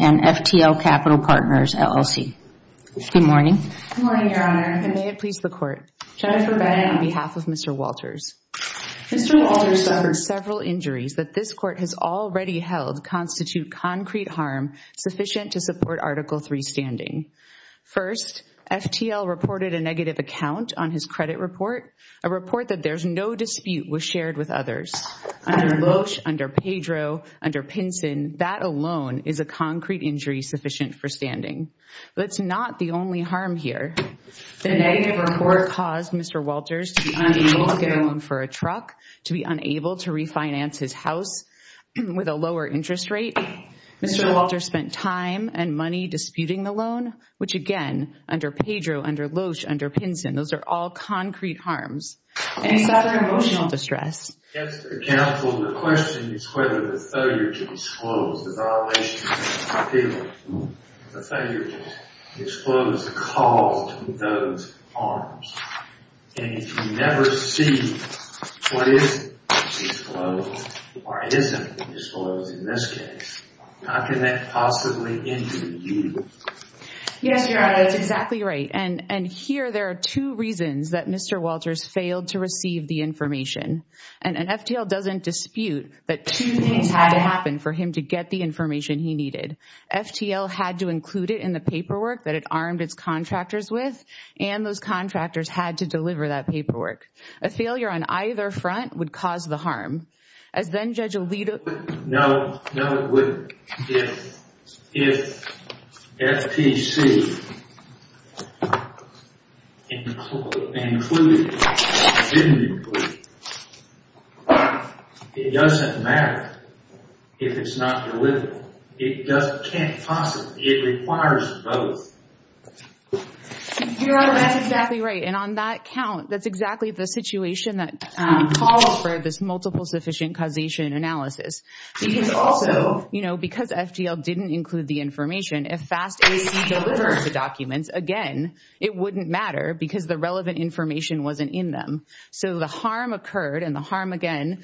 and FTL Capital Partners, LLC. Good morning. Good morning, Your Honor. And may it please the Court. Jennifer Bennet on behalf of Mr. Walters. Mr. Walters suffered several injuries that this Court has already held constitute concrete harm sufficient to support Article 3 standing. First, FTL reported a negative account on his credit report, a report that there's no dispute was shared with others. Under Loesch, under Pedro, under Pinson, that alone is a concrete injury sufficient for standing. But it's not the only harm here. The negative report caused Mr. Walters to be unable to get a loan for a truck, to be unable to refinance his house with a lower interest rate. Mr. Walters spent time and money disputing the loan, which again, under Pedro, under Loesch, under Pinson, those are all concrete harms. And he suffered emotional distress. Mr. Counsel, the question is whether the failure to disclose the violation of the appeal, the failure to disclose the cause of those harms. And if you never see what is disclosed or isn't disclosed in this case, how can that possibly injure you? Yes, Your Honor, that's exactly right. And here there are two reasons that Mr. Walters failed to receive the information. And FTL doesn't dispute that two things had to happen for him to get the information he needed. FTL had to include it in the paperwork that it armed its contractors with. And those contractors had to deliver that paperwork. A failure on either front would cause the harm. As then Judge Alito... No, no it wouldn't. If FTC didn't include it, it doesn't matter if it's not delivered. It requires both. Your Honor, that's exactly right. And on that count, that's exactly the situation that calls for this multiple sufficient causation analysis. Because also, you know, because FTL didn't include the information, if FAST-AC delivered the documents, again, it wouldn't matter because the relevant information wasn't in them. So the harm occurred, and the harm again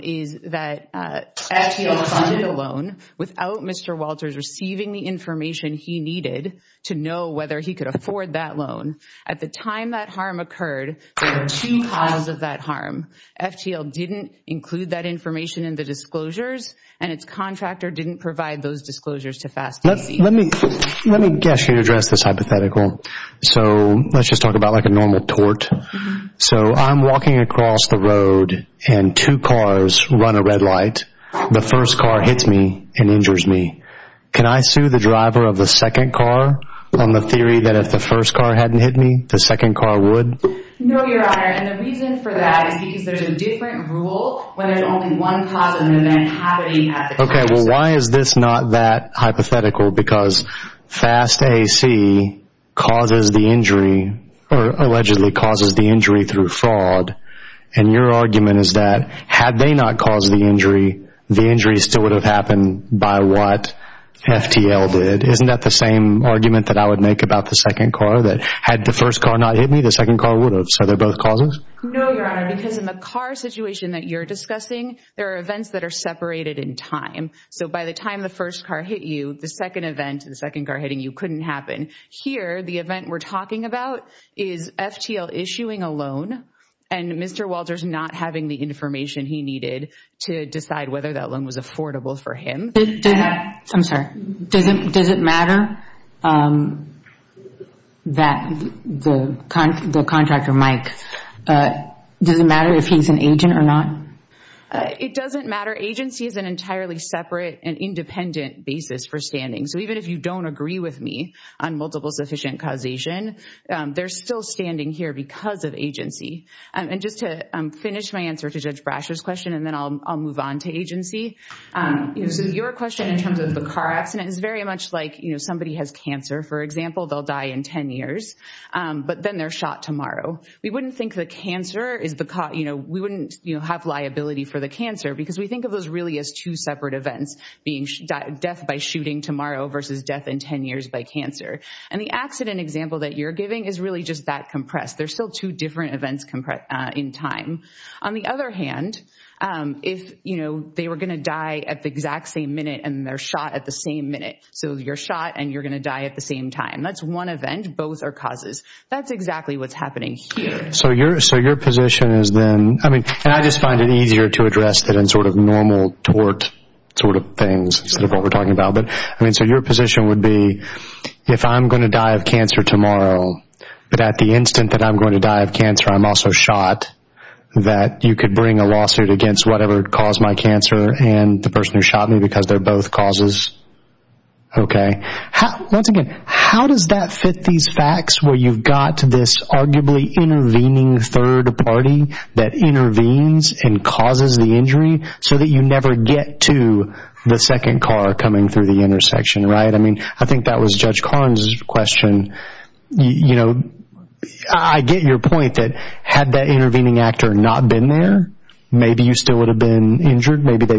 is that FTL funded a loan without Mr. Walters receiving the information he needed to know whether he could afford that loan. At the time that harm occurred, there were two causes of that harm. FTL didn't include that information in the disclosures, and its contractor didn't provide those disclosures to FAST-AC. Let me address this hypothetical. So let's just talk about like a normal tort. So I'm walking across the road and two cars run a red light. The first car hits me and injures me. Can I sue the driver of the second car on the theory that if the first car hadn't hit me, the second car would? No, Your Honor. And the reason for that is because there's a different rule when there's only one cause of an event happening at the time. Okay, well why is this not that hypothetical? Because FAST-AC causes the injury, or allegedly causes the injury through fraud, and your argument is that had they not caused the injury, the injury still would have happened by what FTL did. Isn't that the same argument that I would make about the second car? That had the first car not hit me, the second car would have. So they're both causes? No, Your Honor, because in the car situation that you're discussing, there are events that are separated in time. So by the time the first car hit you, the second event, the second car hitting you couldn't happen. Here, the event we're talking about is FTL issuing a loan, and Mr. Walters not having the information he needed to decide whether that loan was does it matter if he's an agent or not? It doesn't matter. Agency is an entirely separate and independent basis for standing. So even if you don't agree with me on multiple sufficient causation, they're still standing here because of agency. And just to finish my answer to Judge Brasher's question, and then I'll move on to agency. So your question in terms of the car accident is very much like, you know, somebody has cancer, for example, they'll die in 10 years, but then they're shot tomorrow. We wouldn't think the cancer is the cause, you know, we wouldn't have liability for the cancer because we think of those really as two separate events, being death by shooting tomorrow versus death in 10 years by cancer. And the accident example that you're giving is really just that compressed. There's still two different events in time. On the other hand, if, you know, they were going to die at the exact same minute and they're shot at the same minute. So you're shot and you're going to die at the same time. That's one event. Both are causes. That's exactly what's happening here. So your position is then, I mean, and I just find it easier to address that in sort of normal tort sort of things instead of what we're talking about. But I mean, so your position would be if I'm going to die of cancer tomorrow, but at the instant that I'm going to die of cancer, I'm also shot that you could bring a lawsuit against whatever caused my cancer and the person who shot me because they're both causes. Okay. Once again, how does that fit these facts where you've got this arguably intervening third party that intervenes and causes the injury so that you never get to the second car coming through the intersection? Right. I mean, I think that was Judge Karn's question. You know, I get your point that had that intervening actor not been there, maybe you still would have been injured. Maybe they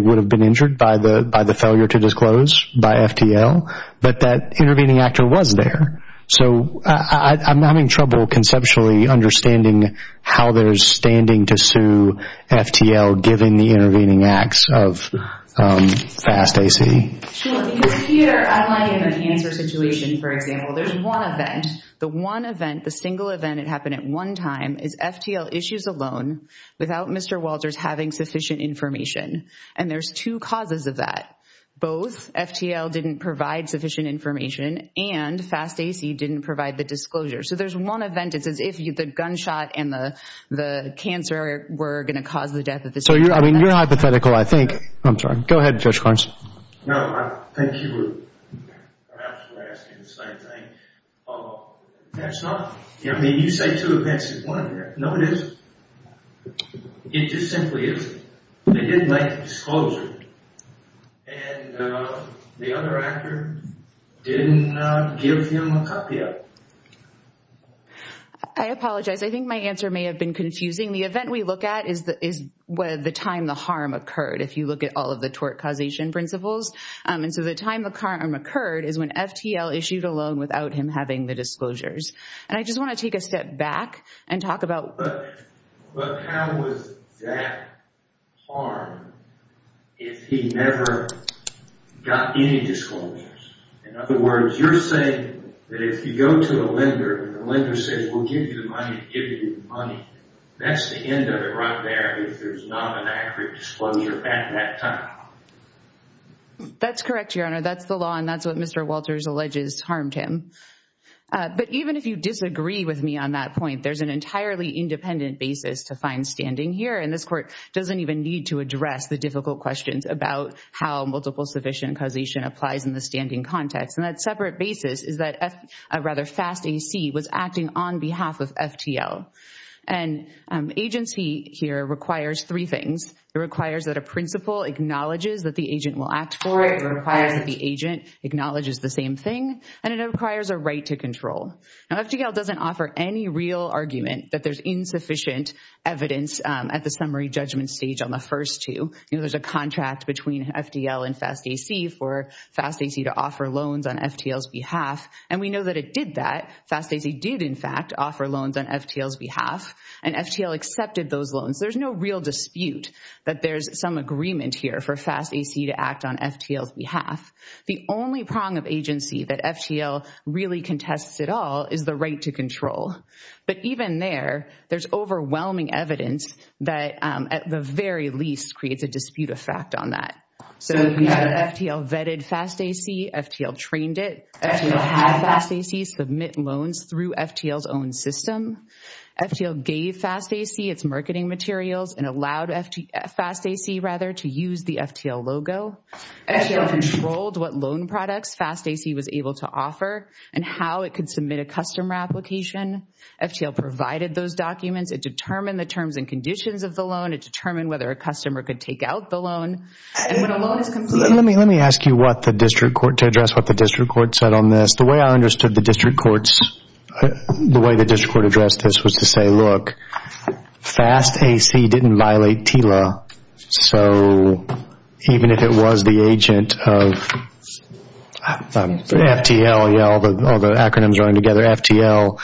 was there. So I'm having trouble conceptually understanding how there's standing to sue FTL given the intervening acts of FAST-AC. Sure. Because here, I want to give an answer situation. For example, there's one event, the one event, the single event that happened at one time is FTL issues alone without Mr. Walters having sufficient information. And there's two causes of that. Both FTL didn't provide sufficient information and FAST-AC didn't provide the disclosure. So there's one event. It's as if the gunshot and the cancer were going to cause the death of the single event. So I mean, you're hypothetical, I think. I'm sorry. Go ahead, Judge Karns. No, I think you were perhaps asking the same thing. That's not, I mean, you say two events at one time. No, it isn't. It just simply isn't. They didn't make the disclosure. And the other actor didn't give him a copy of it. I apologize. I think my answer may have been confusing. The event we look at is the time the harm occurred, if you look at all of the tort causation principles. And so the time the harm occurred is when FTL issued alone without him having the disclosures. And I just want to take a step back and talk about... But how was that harm if he never got any disclosures? In other words, you're saying that if you go to a lender and the lender says, we'll give you the money, give you the money, that's the end of it right there if there's not an accurate disclosure at that time. That's correct, Your Honor. That's the law and that's what Mr. Walters alleges harmed him. But even if you disagree with me on that point, there's an entirely independent basis to find standing here. And this court doesn't even need to address the difficult questions about how multiple sufficient causation applies in the standing context. And that separate basis is that a rather fast AC was acting on behalf of FTL. And agency here requires three things. It requires that a principal acknowledges that the agent will act for it. It requires that the agent acknowledges the same thing. And it requires a right to control. Now, FTL doesn't offer any real argument that there's insufficient evidence at the summary judgment stage on the first two. You know, there's a contract between FTL and FastAC for FastAC to offer loans on FTL's behalf. And we know that it did that. FastAC did, in fact, offer loans on FTL's behalf. And FTL accepted those loans. There's no real dispute that there's some agreement here for FastAC to act on FTL's behalf. The only prong of agency that FTL really contests at all is the right to control. But even there, there's overwhelming evidence that, at the very least, creates a dispute of fact on that. So, you have FTL vetted FastAC. FTL trained it. FTL had FastAC submit loans through FTL's own system. FTL gave FastAC its marketing materials and allowed FastAC, rather, to use the FTL logo. FTL controlled what loan products FastAC was able to offer and how it could submit a customer application. FTL provided those documents. It determined the terms and conditions of the loan. It determined whether a customer could take out the loan. And when a loan is completed... Let me ask you what the district court, to address what the district court said on this. The way I understood the district court's, the way the district court addressed this was to say, look, FastAC didn't violate TILA. So, even if it was the agent of FTL, all the acronyms running together, FTL,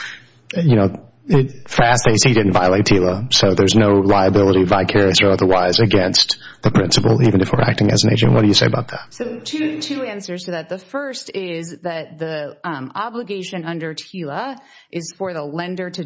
FastAC didn't violate TILA. So, there's no liability, vicarious or otherwise, against the principal, even if we're acting as an agent. What do you say about that? So, two answers to that. The first is that the obligation under TILA is for the lender to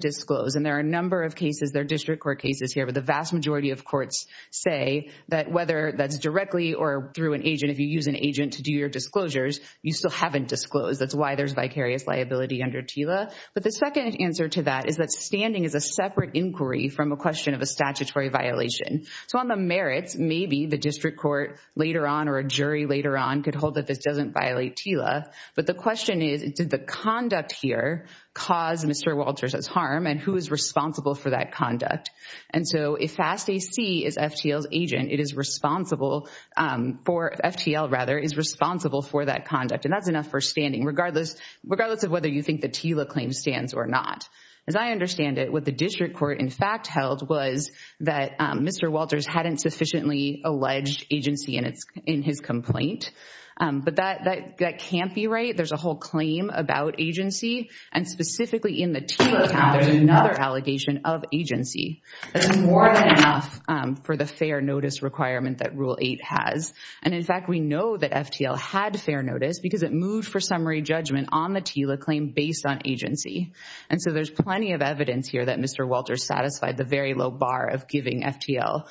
their district court cases here. But the vast majority of courts say that whether that's directly or through an agent, if you use an agent to do your disclosures, you still haven't disclosed. That's why there's vicarious liability under TILA. But the second answer to that is that standing is a separate inquiry from a question of a statutory violation. So, on the merits, maybe the district court later on or a jury later on could hold that this doesn't violate TILA. But the question is, did the conduct here cause Mr. Walters' harm and who is responsible for that conduct? And so, if FastAC is FTL's agent, it is responsible for, FTL rather, is responsible for that conduct. And that's enough for standing, regardless of whether you think the TILA claim stands or not. As I understand it, what the district court in fact held was that Mr. Walters hadn't sufficiently alleged agency in his complaint. But that can't be right. There's a whole claim about agency. And specifically in the TILA, there's another allegation of agency. That's more than enough for the fair notice requirement that Rule 8 has. And in fact, we know that FTL had fair notice because it moved for summary judgment on the TILA claim based on agency. And so, there's plenty of evidence here that Mr. Walters satisfied the very low bar of giving FTL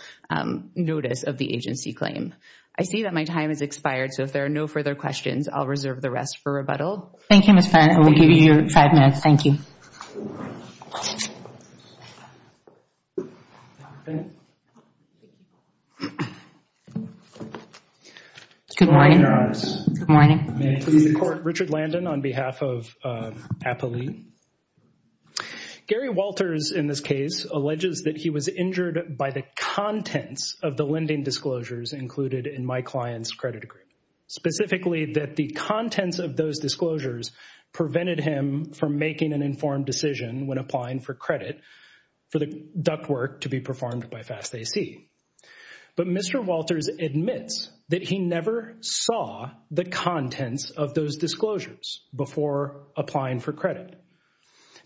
notice of the agency claim. I see that my time has expired. So, if there are no further questions, I'll reserve the rest for rebuttal. Thank you, Ms. Penn. I will give you your five minutes. Thank you. Good morning. May I please report? Richard Landon on behalf of APALE. Gary Walters, in this case, alleges that he was injured by the contents of the lending disclosures included in my client's credit agreement. Specifically, that the contents of those disclosures prevented him from making an informed decision when applying for credit for the ductwork to be performed by FastAC. But Mr. Walters admits that he never saw the contents of those disclosures before applying for credit.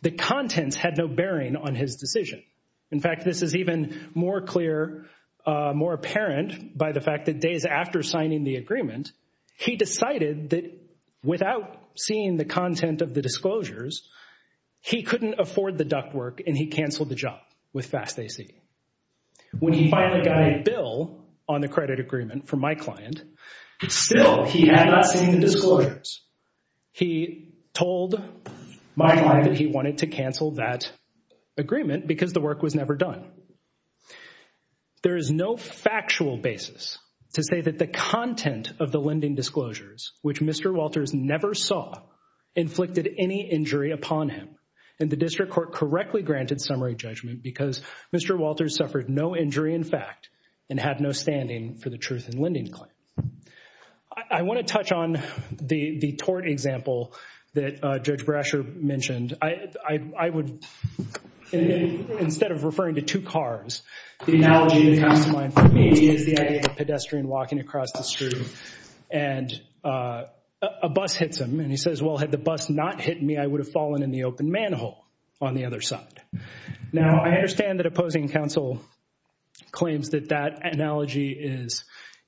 The contents had no bearing on his decision. In fact, this is even more clear, more apparent by the fact that days after signing the agreement, he decided that without seeing the content of the disclosures, he couldn't afford the ductwork and he canceled the job with FastAC. When he finally got a bill on the credit agreement from my client, still he had not seen the disclosures. He told my client that he wanted to cancel that agreement because the work was never done. There is no factual basis to say that the content of the lending disclosures, which Mr. Walters never saw, inflicted any injury upon him. And the district court correctly granted summary judgment because Mr. Walters suffered no injury in fact and had no standing for the truth in lending claim. I want to touch on the tort example that Judge Brasher mentioned. I would, instead of referring to two cars, the analogy that comes to mind for me is the idea of a pedestrian walking across the street and a bus hits him. And he says, well, had the bus not hit me, I would have fallen in the open manhole on the other side. Now, I understand that opposing counsel claims that that analogy is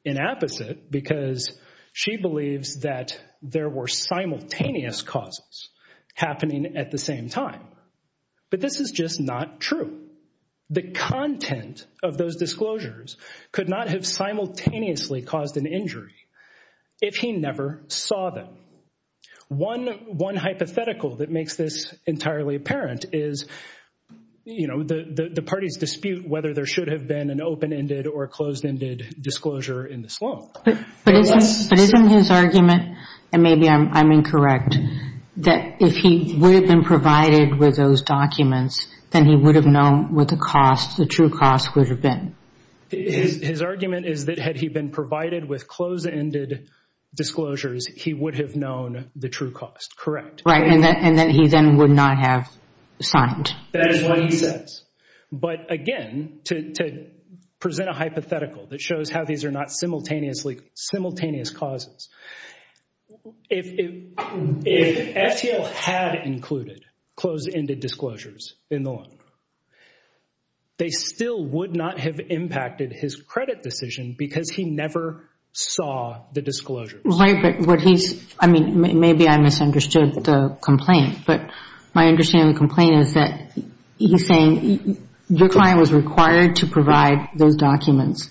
inapposite because she believes that there were simultaneous causes happening at the same time. But this is just not true. The content of those disclosures could not have simultaneously caused an injury if he never saw them. One hypothetical that makes this entirely apparent is, you know, the party's dispute whether there should have been an open-ended or closed-ended disclosure in this law. But isn't his argument, and maybe I'm incorrect, that if he would have been provided with those documents, then he would have known what the cost, the true cost, would have been? His argument is that had he been provided with closed-ended disclosures, he would have known the true cost. Correct. Right. And then he then would not have signed. That is what he says. But again, to present a hypothetical that shows how these are not simultaneously, simultaneous causes, if SEL had included closed-ended disclosures in the law, they still would not have impacted his credit decision because he never saw the disclosures. Right, but what he's, I mean, maybe I misunderstood the complaint, but my understanding of the complaint is that he's saying your client was required to provide those documents.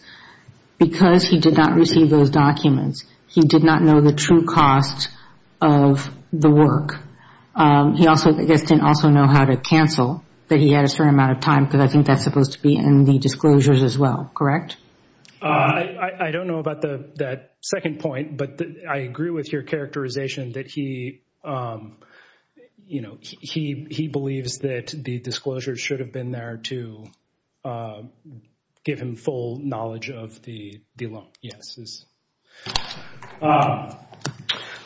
Because he did not receive those documents, he did not know the true cost of the work. He also, I guess, didn't also know how to cancel, that he had a certain amount of time because I think that's supposed to be in the disclosures as well. Correct? I don't know about that second point, but I agree with your characterization that he, you know, he believes that the disclosures should have been there to give him full knowledge of the law. Yes.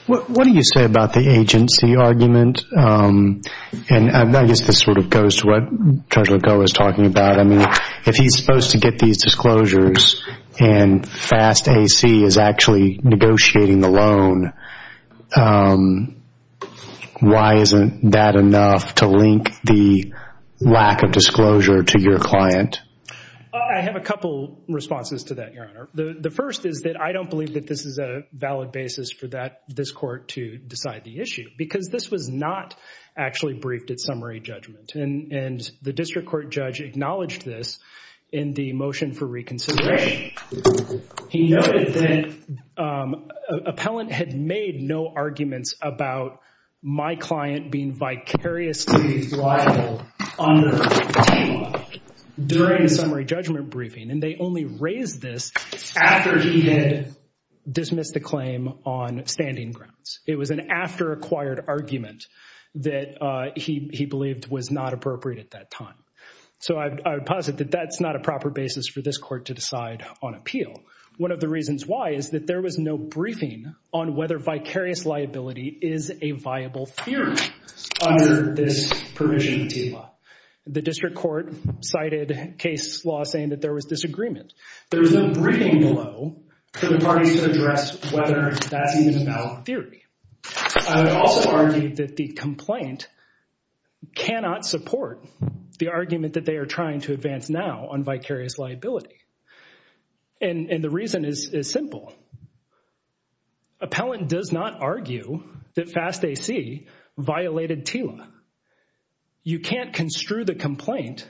What do you say about the agency argument? And I guess this sort of goes to what Judge Legault was talking about. I mean, if he's supposed to get these disclosures and FAST-AC is actually negotiating the loan, why isn't that enough to link the lack of disclosure to your client? I have a couple responses to that, Your Honor. The first is that I don't believe that this is not actually briefed at summary judgment. And the district court judge acknowledged this in the motion for reconsideration. He noted that an appellant had made no arguments about my client being vicariously liable under TEMA during a summary judgment briefing, and they only raised this after he had dismissed the claim on standing grounds. It was an after acquired argument that he believed was not appropriate at that time. So I would posit that that's not a proper basis for this court to decide on appeal. One of the reasons why is that there was no briefing on whether vicarious liability is a viable theory under this provision of TEMA. The district court cited case law saying that there was disagreement. There was no briefing below for the parties to address whether that's even a valid theory. I would also argue that the complaint cannot support the argument that they are trying to advance now on vicarious liability. And the reason is simple. Appellant does not argue that FAST-AC violated TEMA. You can't construe the complaint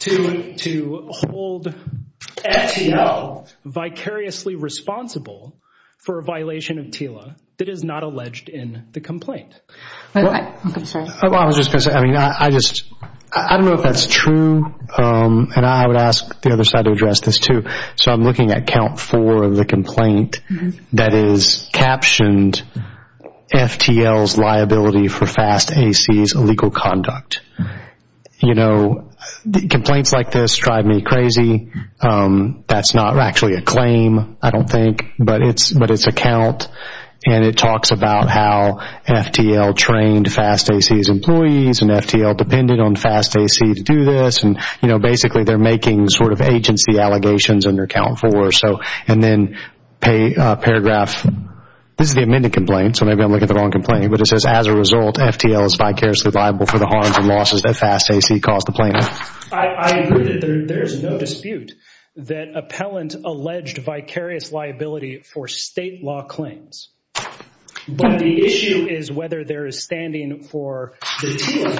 to hold FTL vicariously responsible for a violation of TELA that is not alleged in the complaint. I was just going to say, I mean, I just, I don't know if that's true. And I would ask the other side to address this too. So I'm looking at count four of the complaint that is captioned FTL's liability for FAST-AC's illegal conduct. You know, complaints like this drive me but it's a count and it talks about how FTL trained FAST-AC's employees and FTL depended on FAST-AC to do this. And, you know, basically they're making sort of agency allegations under count four. So, and then pay a paragraph. This is the amended complaint. So maybe I'm looking at the wrong complaint, but it says as a result, FTL is vicariously liable for the harms and losses that FAST-AC caused the plaintiff. I agree that there's no dispute that for state law claims, but the issue is whether there is standing for the TELA.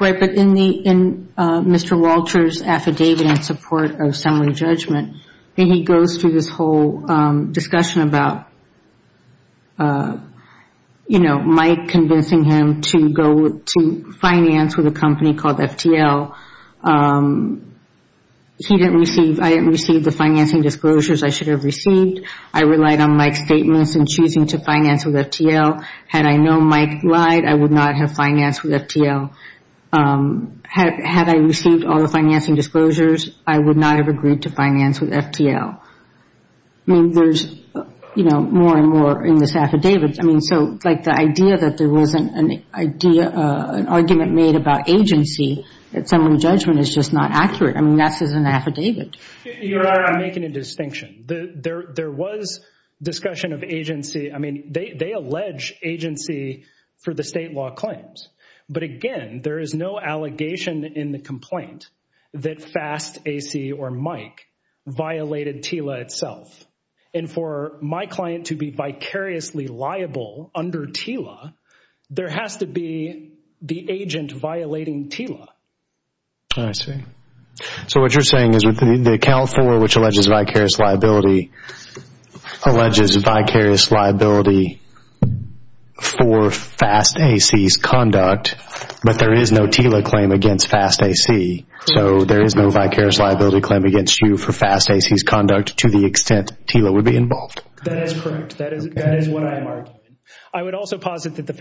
Right. But in the, in Mr. Walters affidavit in support of summary judgment, and he goes through this whole discussion about, you know, Mike convincing him to go to finance with a company called FTL. He didn't receive, I didn't receive the financing disclosures I should have received. I relied on Mike's statements in choosing to finance with FTL. Had I known Mike lied, I would not have financed with FTL. Had I received all the financing disclosures, I would not have agreed to finance with FTL. I mean, there's, you know, more and more in this affidavit. I mean, so like the idea that there wasn't an idea, an argument made about agency at summary judgment is just not accurate. I mean, that's just an affidavit. You're making a distinction. There was discussion of agency. I mean, they allege agency for the state law claims. But again, there is no allegation in the complaint that FAST AC or Mike violated TELA itself. And for my client to be vicariously liable under TELA, there has to be the agent violating TELA. I see. So what you're saying is with the account for which alleges vicarious liability, alleges vicarious liability for FAST AC's conduct, but there is no TELA claim against FAST AC. So there is no vicarious liability claim against you for FAST AC's conduct to the extent TELA would be involved. That is correct. That is what I am arguing. I would also posit that the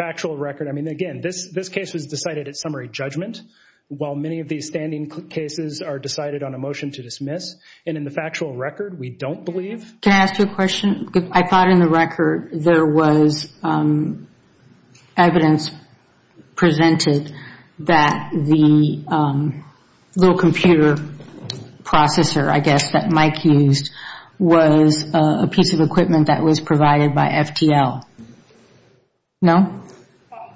judgment, while many of these standing cases are decided on a motion to dismiss and in the factual record, we don't believe. Can I ask you a question? I thought in the record there was evidence presented that the little computer processor, I guess, that Mike used was a piece of equipment that was provided by FTL. No?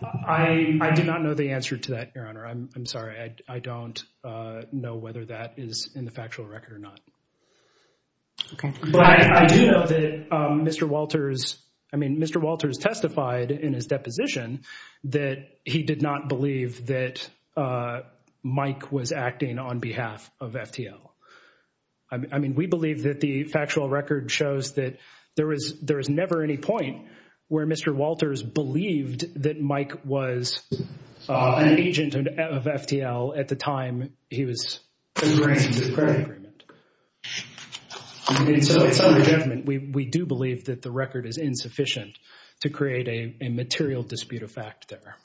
I do not know the answer to that, Your Honor. I'm sorry. I don't know whether that is in the factual record or not. But I do know that Mr. Walters, I mean, Mr. Walters testified in his deposition that he did not believe that Mike was acting on behalf of FTL. I mean, we believe that the factual record shows that there is never any point where Mr. Walters believed that Mike was an agent of FTL at the time he was agreeing to the credit agreement. I mean, so it is under judgment. We do believe that the record is insufficient to create a material dispute of fact there.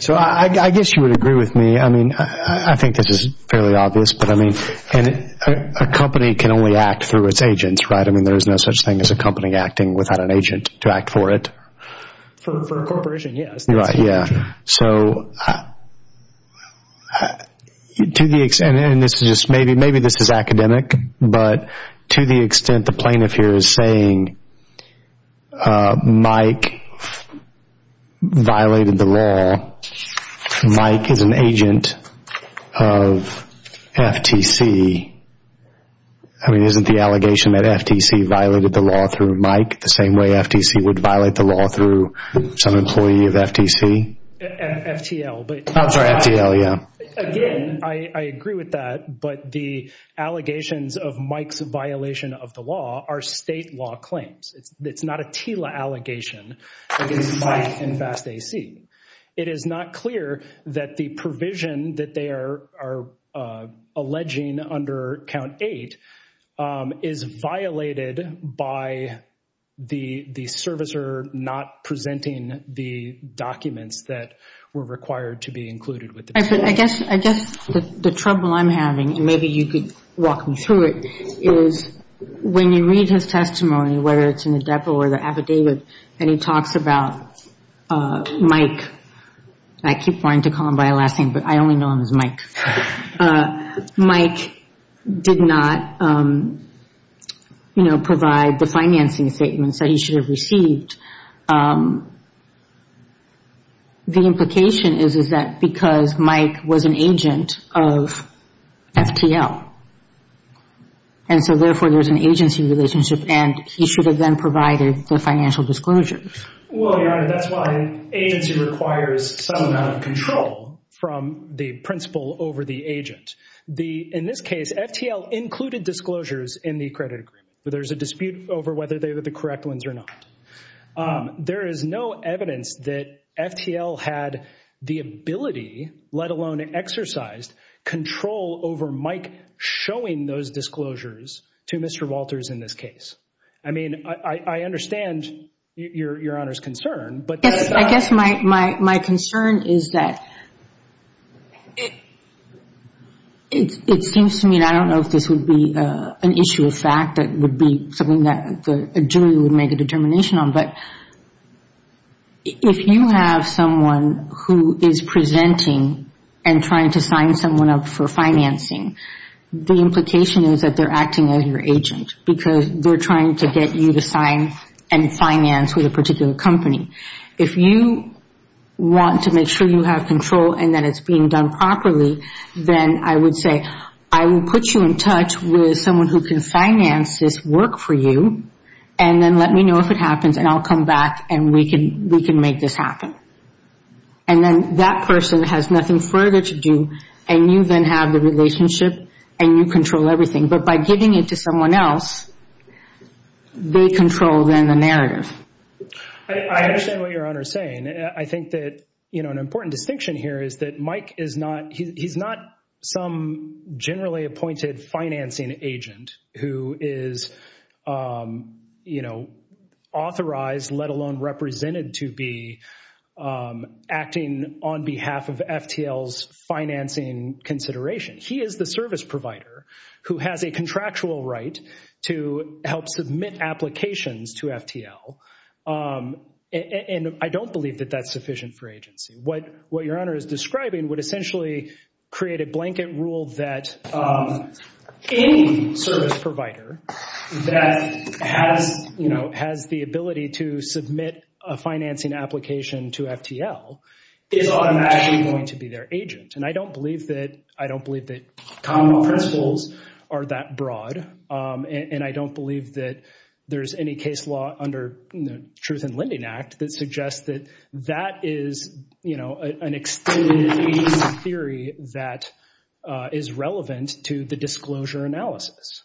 So I guess you would agree with me. I mean, I think this is fairly obvious, but I mean, and a company can only act through its agents, right? I mean, there is no such thing as a company acting without an agent to act for it. For a corporation, yes. Right, yeah. So to the extent, and this is just maybe this is academic, but to the extent the plaintiff here is saying Mike violated the law, Mike is an agent of FTC. I mean, isn't the allegation that FTC violated the law through Mike the same way FTC would violate the law through some employee of FTC? FTL. I'm sorry, FTL, yeah. Again, I agree with that, but the allegations of Mike's violation of the law are state law claims. It's not a TILA allegation against Mike and FAST-AC. It is not clear that the provision that they are alleging under Count 8 is violated by the servicer not presenting the documents that were required to be included with the provision. I guess the trouble I'm having, and maybe you could walk me through it, is when you read his testimony, whether it's in the depot or the affidavit, and he talks about Mike, I keep wanting to call him by last name, but I only know him as Mike. Mike did not, you know, provide the financing statements that he should have received. The implication is, is that because Mike was an agent of FTL, and so therefore there's an agency relationship, and he should have then provided the financial disclosures. Well, Your Honor, that's why agency requires some amount of control from the principal over the agent. In this case, FTL included disclosures in the credit agreement. There's a dispute over whether they were the correct ones or not. There is no evidence that FTL had the ability, let alone exercised, control over Mike showing those disclosures to Mr. Walters in this case. I mean, I understand Your Honor's concern, but... Yes, I guess my concern is that it seems to me, and I don't know if this would be an issue of fact that would be something that a jury would make a determination on, but if you have someone who is presenting and trying to sign someone up for financing, the implication is that they're acting as your agent because they're trying to get you to sign and finance with a particular company. If you want to make sure you have control and that it's being done properly, then I would say, I will put you in touch with someone who can finance this work for you, and then let me know if it happens, and I'll come back, and we can we can make this happen. And then that person has nothing further to do, and you then have the relationship, and you control everything. But by giving it to someone else, they control then the narrative. I understand what Your Honor is saying. I think that, you know, an important distinction here is that Mike is not, he's not some generally appointed financing agent who is, you know, authorized, let alone represented to be acting on behalf of FTL's financing consideration. He is the service provider who has a contractual right to help submit applications to FTL, and I don't believe that that's sufficient for agency. What Your Honor is describing would essentially create a blanket rule that any service provider that has, you know, has the ability to submit a financing application to FTL is automatically going to be their agent. And I don't believe that, I don't believe that common principles are that broad, and I don't believe that there's any case law under the Truth in Lending Act that suggests that that is, you know, an extended agency theory that is relevant to the disclosure analysis.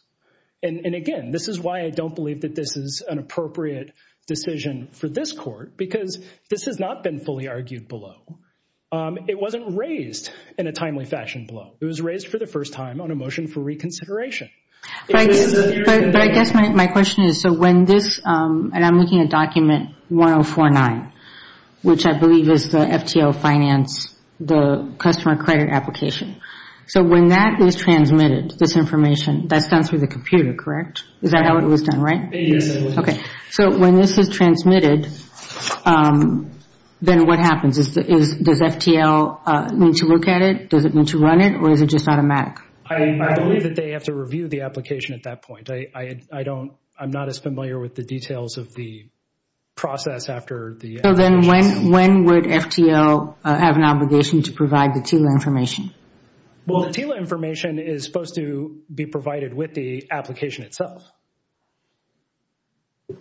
And again, this is why I don't believe that this is an appropriate decision for this Court, because this has not been fully argued below. It wasn't raised in a timely fashion below. It was raised for the first time on a motion for reconsideration. But I guess my question is, so when this, and I'm looking at document 1049, which I believe is the FTL finance, the customer credit application. So when that is transmitted, this information, that's done through the computer, correct? Is that how it was done, right? Yes. Okay. So when this is transmitted, then what happens? Does FTL need to look at it? Does it need to run it? Or is it just automatic? I believe that they have to review the application at that point. I don't, I'm not as familiar with the details of the process after the... So then when would FTL have an obligation to provide the TILA information? Well, the TILA information is supposed to be provided with the application itself.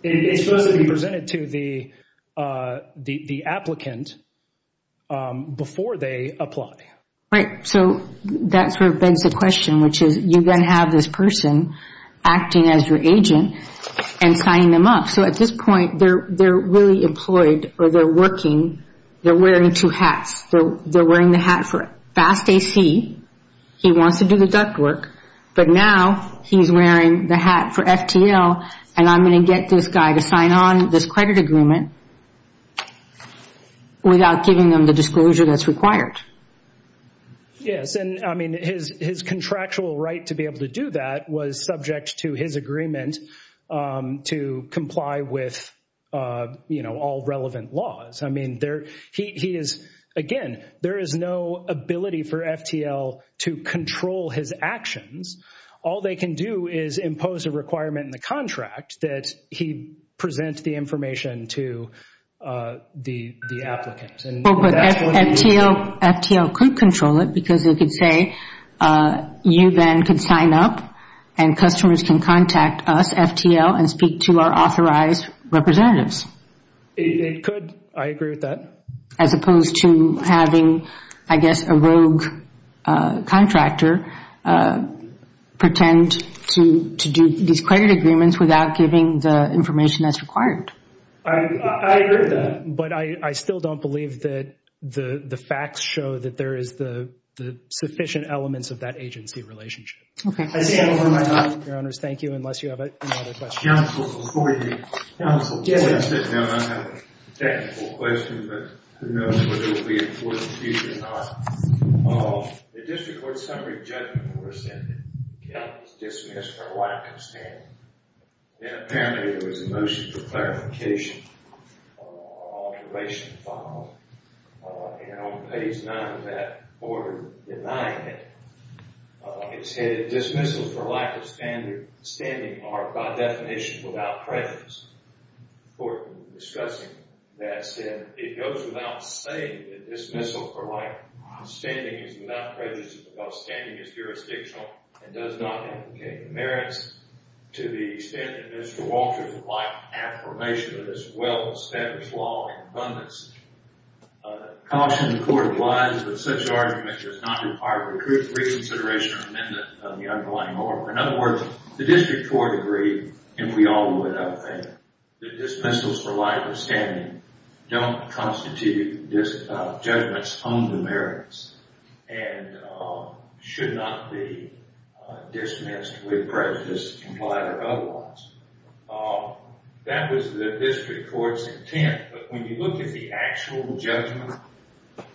It's supposed to be presented to the applicant before they apply. Right. So that sort of begs the question, which is, you then have this person acting as your agent and signing them up. So at this point, they're really employed, or they're working, they're wearing two hats. They're wearing the hat for FAST-AC, he wants to do the duct work, but now he's wearing the hat for FTL, and I'm going to get this guy to sign on this credit agreement without giving them the disclosure that's required. Yes. And I mean, his contractual right to be able to do that was subject to his agreement to comply with all relevant laws. I mean, he is, again, there is no ability for FTL to control his actions. All they can do is impose a requirement in the contract that he present the information to the applicant. FTL could control it because it could say, you then can sign up and customers can contact us, FTL, and speak to our authorized representatives. It could. I agree with that. As opposed to having, I guess, a rogue contractor pretend to do these credit agreements without giving the information that's required. I agree with that, but I still don't believe that the facts show that there is the sufficient elements of that agency relationship. Okay. Thank you, unless you have any other questions. Counsel, before you. Counsel, before I sit down, I have a technical question, but who knows whether it will be important to you or not. The district court summary judgment were rescinded, dismissed for lack of standard. Then apparently there was a motion for clarification, observation filed, and on page nine of that order denying it, it said, dismissal for lack of standard standing are by definition without prejudice. Court discussing that said, it goes without saying that dismissal for lack of standing is without prejudice because standing is jurisdictional and does not implicate the merits to the extent that Mr. Walter would like affirmation of this well-established law in abundance. I caution the court of lies that such argument does not require recruit reconsideration or amendment of the underlying order. In other words, the district court agreed, and we all would, I think, that dismissals for lack of standing don't constitute judgments on the merits and should not be dismissed with prejudice implied or otherwise. That was the district court's intent, but when you look at the actual judgment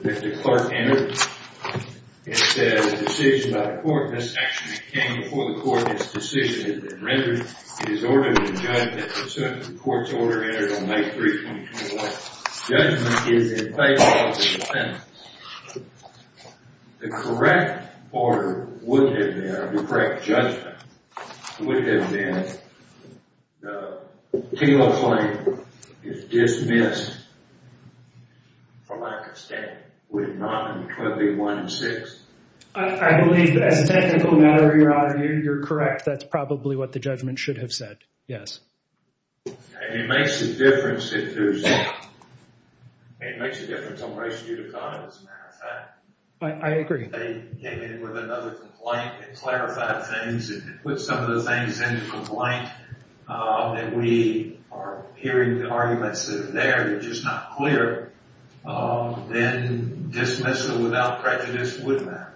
that the clerk entered, it said, a decision by the court, this actually came before the court, this decision had been rendered, it is ordered to judge that the court's order entered on page 322. Judgment is in place of a sentence. The correct order would have been, the correct judgment, it would have been, the appeal of the claim is dismissed for lack of standing, would it not, and could it be one in six? I believe that as a technical matter, your honor, you're correct, that's probably what the judgment should have said, yes. And it makes a difference, it does. It makes a difference on the ratio of the matter of fact. I agree. They came in with another complaint and clarified things and put some of the things in the complaint that we are hearing the arguments that are there, they're just not clear, then dismissal without prejudice would matter.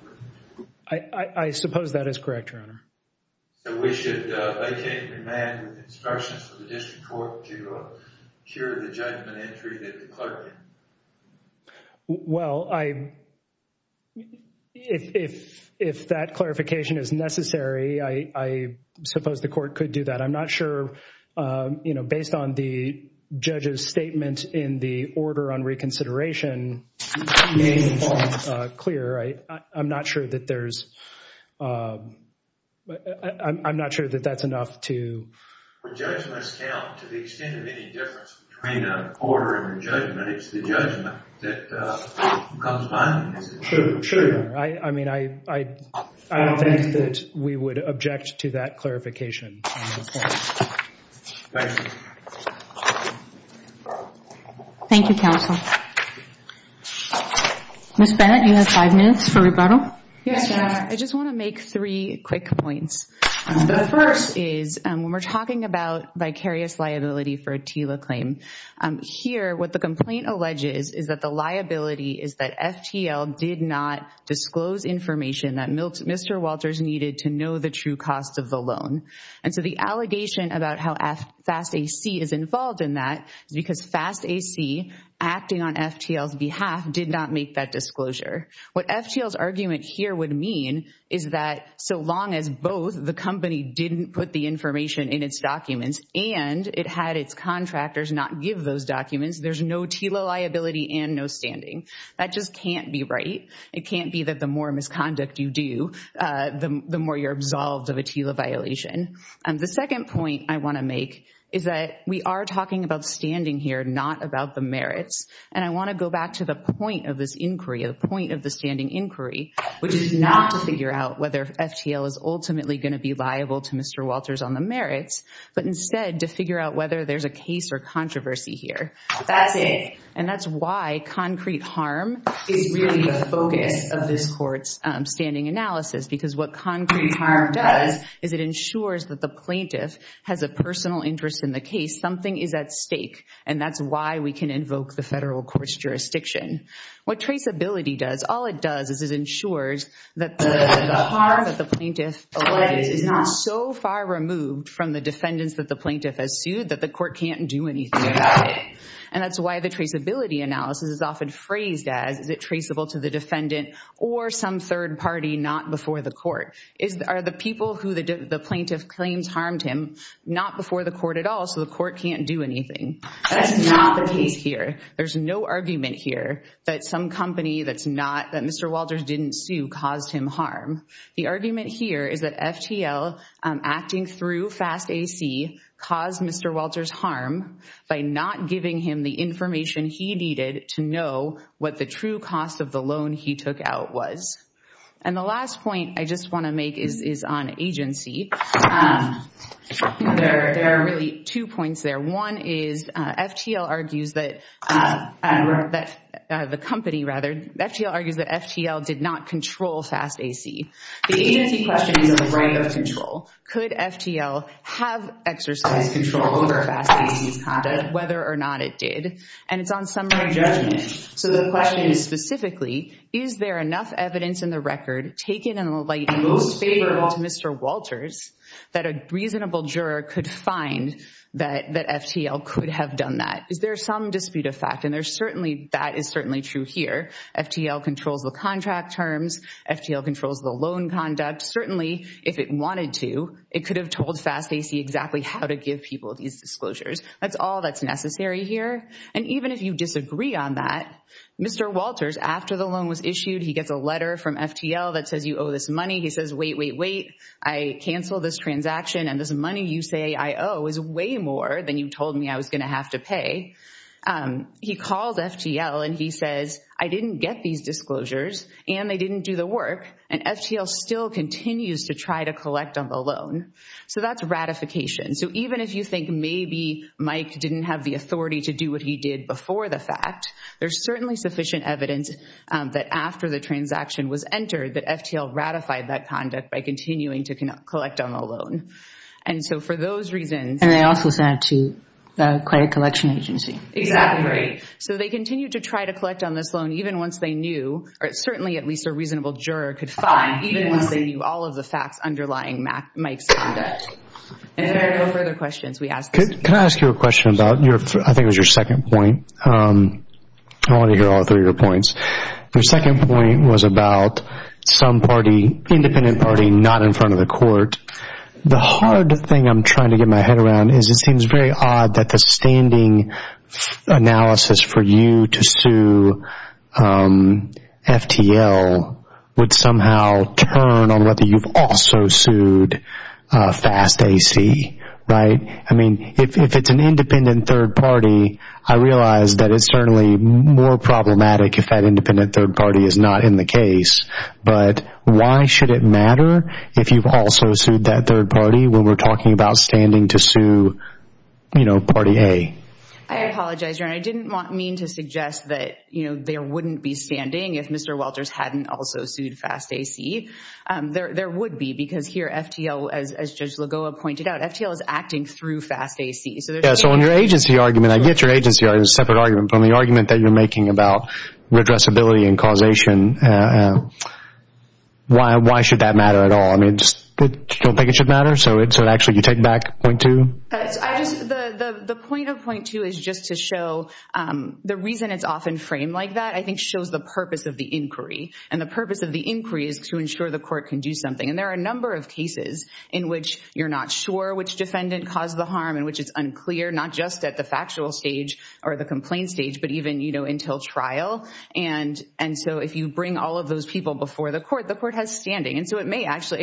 I suppose that is correct, your honor. So we should vacate the amendment with instructions for the district court to cure the judgment entry that the clerk did. Well, if that clarification is necessary, I suppose the court could do that. I'm not sure, you know, based on the judge's statement in the order on reconsideration, he made it all clear. I'm not sure that there's, I'm not sure that that's enough to... The judge must count to the extent of any difference between a order and a judgment, it's the judgment that comes by. Sure, sure. I mean, I think that we would object to that clarification. Thank you. Thank you, counsel. Ms. Bennett, you have five minutes for rebuttal. Yes, your honor. I just want to make three quick points. The first is when we're talking about vicarious liability for a TILA claim, here what the complaint alleges is that the liability is that FTL did not disclose information that Mr. Walters needed to know the true cost of the loan. And so the allegation about how FAST-AC is involved in that is because FAST-AC, acting on FTL's behalf, did not make that disclosure. What FTL's argument here would mean is that so long as both the company didn't put the information in its documents and it had its contractors not give those documents, there's no TILA liability and no standing. That just can't be right. It can't be that the more misconduct you do, the more you're absolved of a TILA violation. The second point I want to make is that we are talking about standing here, not about the merits. And I want to go back to the point of this inquiry, the point of the standing inquiry, which is not to figure out whether FTL is ultimately going to be liable to Mr. Walters on the merits, but instead to figure out whether there's a case or controversy here. That's it. And that's why concrete harm is really the focus of this court's standing analysis, because what concrete harm does is it ensures that the plaintiff has a personal interest in the case. Something is at stake. And that's why we can invoke the federal court's jurisdiction. What traceability does, all it does is it ensures that the harm that the plaintiff alleged is not so far removed from the defendants that the plaintiff has sued that the court can't do anything about it. And that's why the traceability analysis is often phrased as, is it traceable to the defendant or some third party not before the court? Are the people who the plaintiff claims harmed him not before the court at all, so the court can't do anything? That's not the case here. There's no argument here that some company that Mr. Walters didn't sue caused him harm. The argument here is that FTL acting through FAST-AC caused Mr. Walters harm by not giving him the information he needed to know what the true cost of the loan he took out was. And the last point I just want to make is on agency. There are really two points there. One is FTL argues that the company, rather, FTL argues that FTL did not control FAST-AC. The agency question is on the right of control. Could FTL have exercised control over FAST-AC's conduct, whether or not it did? And it's on summary judgment. So the question is specifically, is there enough evidence in the record taken in the light most favorable to Mr. Walters that a reasonable juror could find that FTL could have done that? Is there some dispute of fact? That is certainly true here. FTL controls the contract terms. FTL controls the loan conduct. Certainly, if it wanted to, it could have told FAST-AC exactly how to give people these disclosures. That's all that's necessary here. And even if you disagree on that, Mr. Walters, after the loan was issued, he gets a letter from FTL that says, you owe this money. He says, wait, wait, wait, I cancel this transaction. And this money you say I owe is way more than you told me I was going to have to pay. He calls FTL, and he says, I didn't get these disclosures, and they didn't do the work. And FTL still continues to try to collect on the loan. So that's ratification. So even if you think maybe Mike didn't have the authority to do what he did before the fact, there's certainly sufficient evidence that after the transaction was entered that FTL ratified that conduct by continuing to collect on the loan. And so for those reasons— And they also sent it to the credit collection agency. Exactly right. So they continue to try to collect on this loan even once they knew, or certainly at least a reasonable juror could find, even once they knew all of the facts underlying Mike's conduct. And if there are no further questions, we ask this— Can I ask you a question about your, I think it was your second point. I want to hear all three of your points. Your second point was about some party, independent party, not in front of the is it seems very odd that the standing analysis for you to sue FTL would somehow turn on whether you've also sued FAST-AC, right? I mean, if it's an independent third party, I realize that it's certainly more problematic if that independent third party is not in the case. But why should it matter if you've also sued that third party when we're talking about standing to sue party A? I apologize, Your Honor. I didn't mean to suggest that there wouldn't be standing if Mr. Walters hadn't also sued FAST-AC. There would be because here FTL, as Judge Lagoa pointed out, FTL is acting through FAST-AC. So there's— Yeah, so on your agency argument, I get your agency argument. It's a separate argument from the argument that you're making about redressability and causation. Why should that matter at all? I mean, just don't think it should matter? So actually, you take back point two? The point of point two is just to show the reason it's often framed like that, I think, shows the purpose of the inquiry. And the purpose of the inquiry is to ensure the court can do something. And there are a number of cases in which you're not sure which defendant caused the harm and which is unclear, not just at the factual stage or the complaint stage, but even until trial. And so if you bring all of those people before the court, the court has standing. And so it may actually—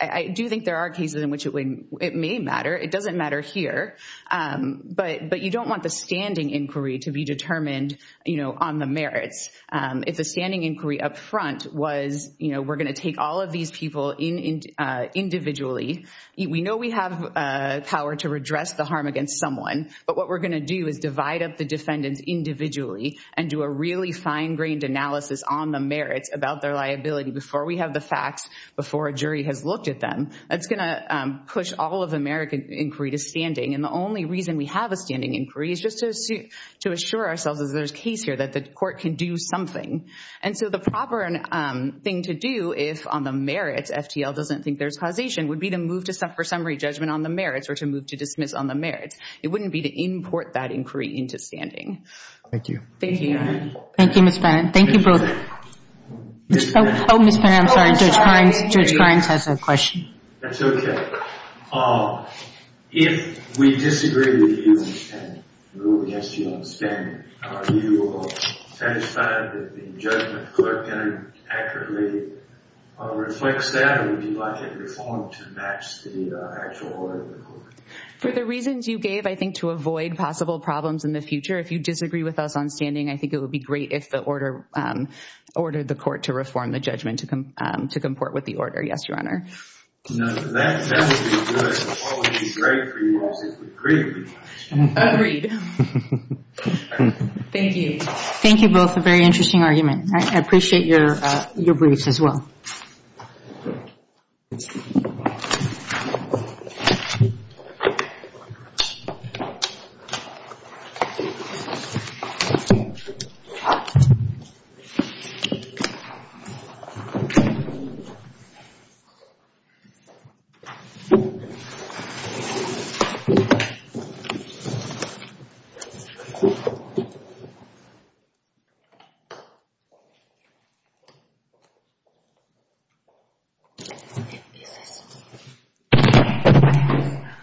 I do think there are cases in which it may matter. It doesn't matter here. But you don't want the standing inquiry to be determined on the merits. If the standing inquiry up front was, you know, we're going to take all of these people individually. We know we have power to redress the harm against someone. But what we're going to do is divide up the defendants individually and do a really fine-grained analysis on the merits about their liability before we have the facts, before a jury has looked at them. That's going to push all of the merit inquiry to standing. And the only reason we have a standing inquiry is just to assure ourselves, as there's a case here, that the court can do something. And so the proper thing to do, if on the merits, FTL doesn't think there's causation, would be to move to summary judgment on the merits or to move to dismiss on the merits. It wouldn't be to import that inquiry into standing. Thank you. Thank you. Thank you, Ms. Pennant. Thank you, Brooke. Ms. Pennant. Oh, Ms. Pennant, I'm sorry. Judge Hines has a question. That's okay. If we disagree with you and rule against you on standing, are you satisfied that the For the reasons you gave, I think to avoid possible problems in the future, if you disagree with us on standing, I think it would be great if the order ordered the court to reform the judgment to comport with the order. Yes, Your Honor. Thank you. Thank you both. A very interesting argument. I appreciate your briefs as well.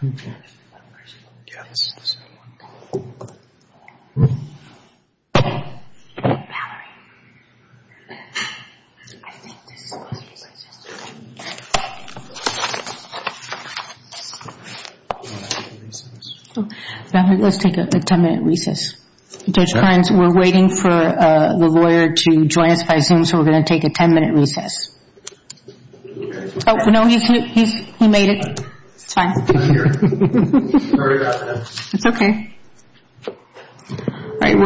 Okay. Yeah, this is the same one. Valerie, I think this is supposed to be registered. Valerie, let's take a ten-minute recess. Judge Hines, we're waiting for the lawyer to join us by recess. Oh, no, he made it. It's fine. It's okay.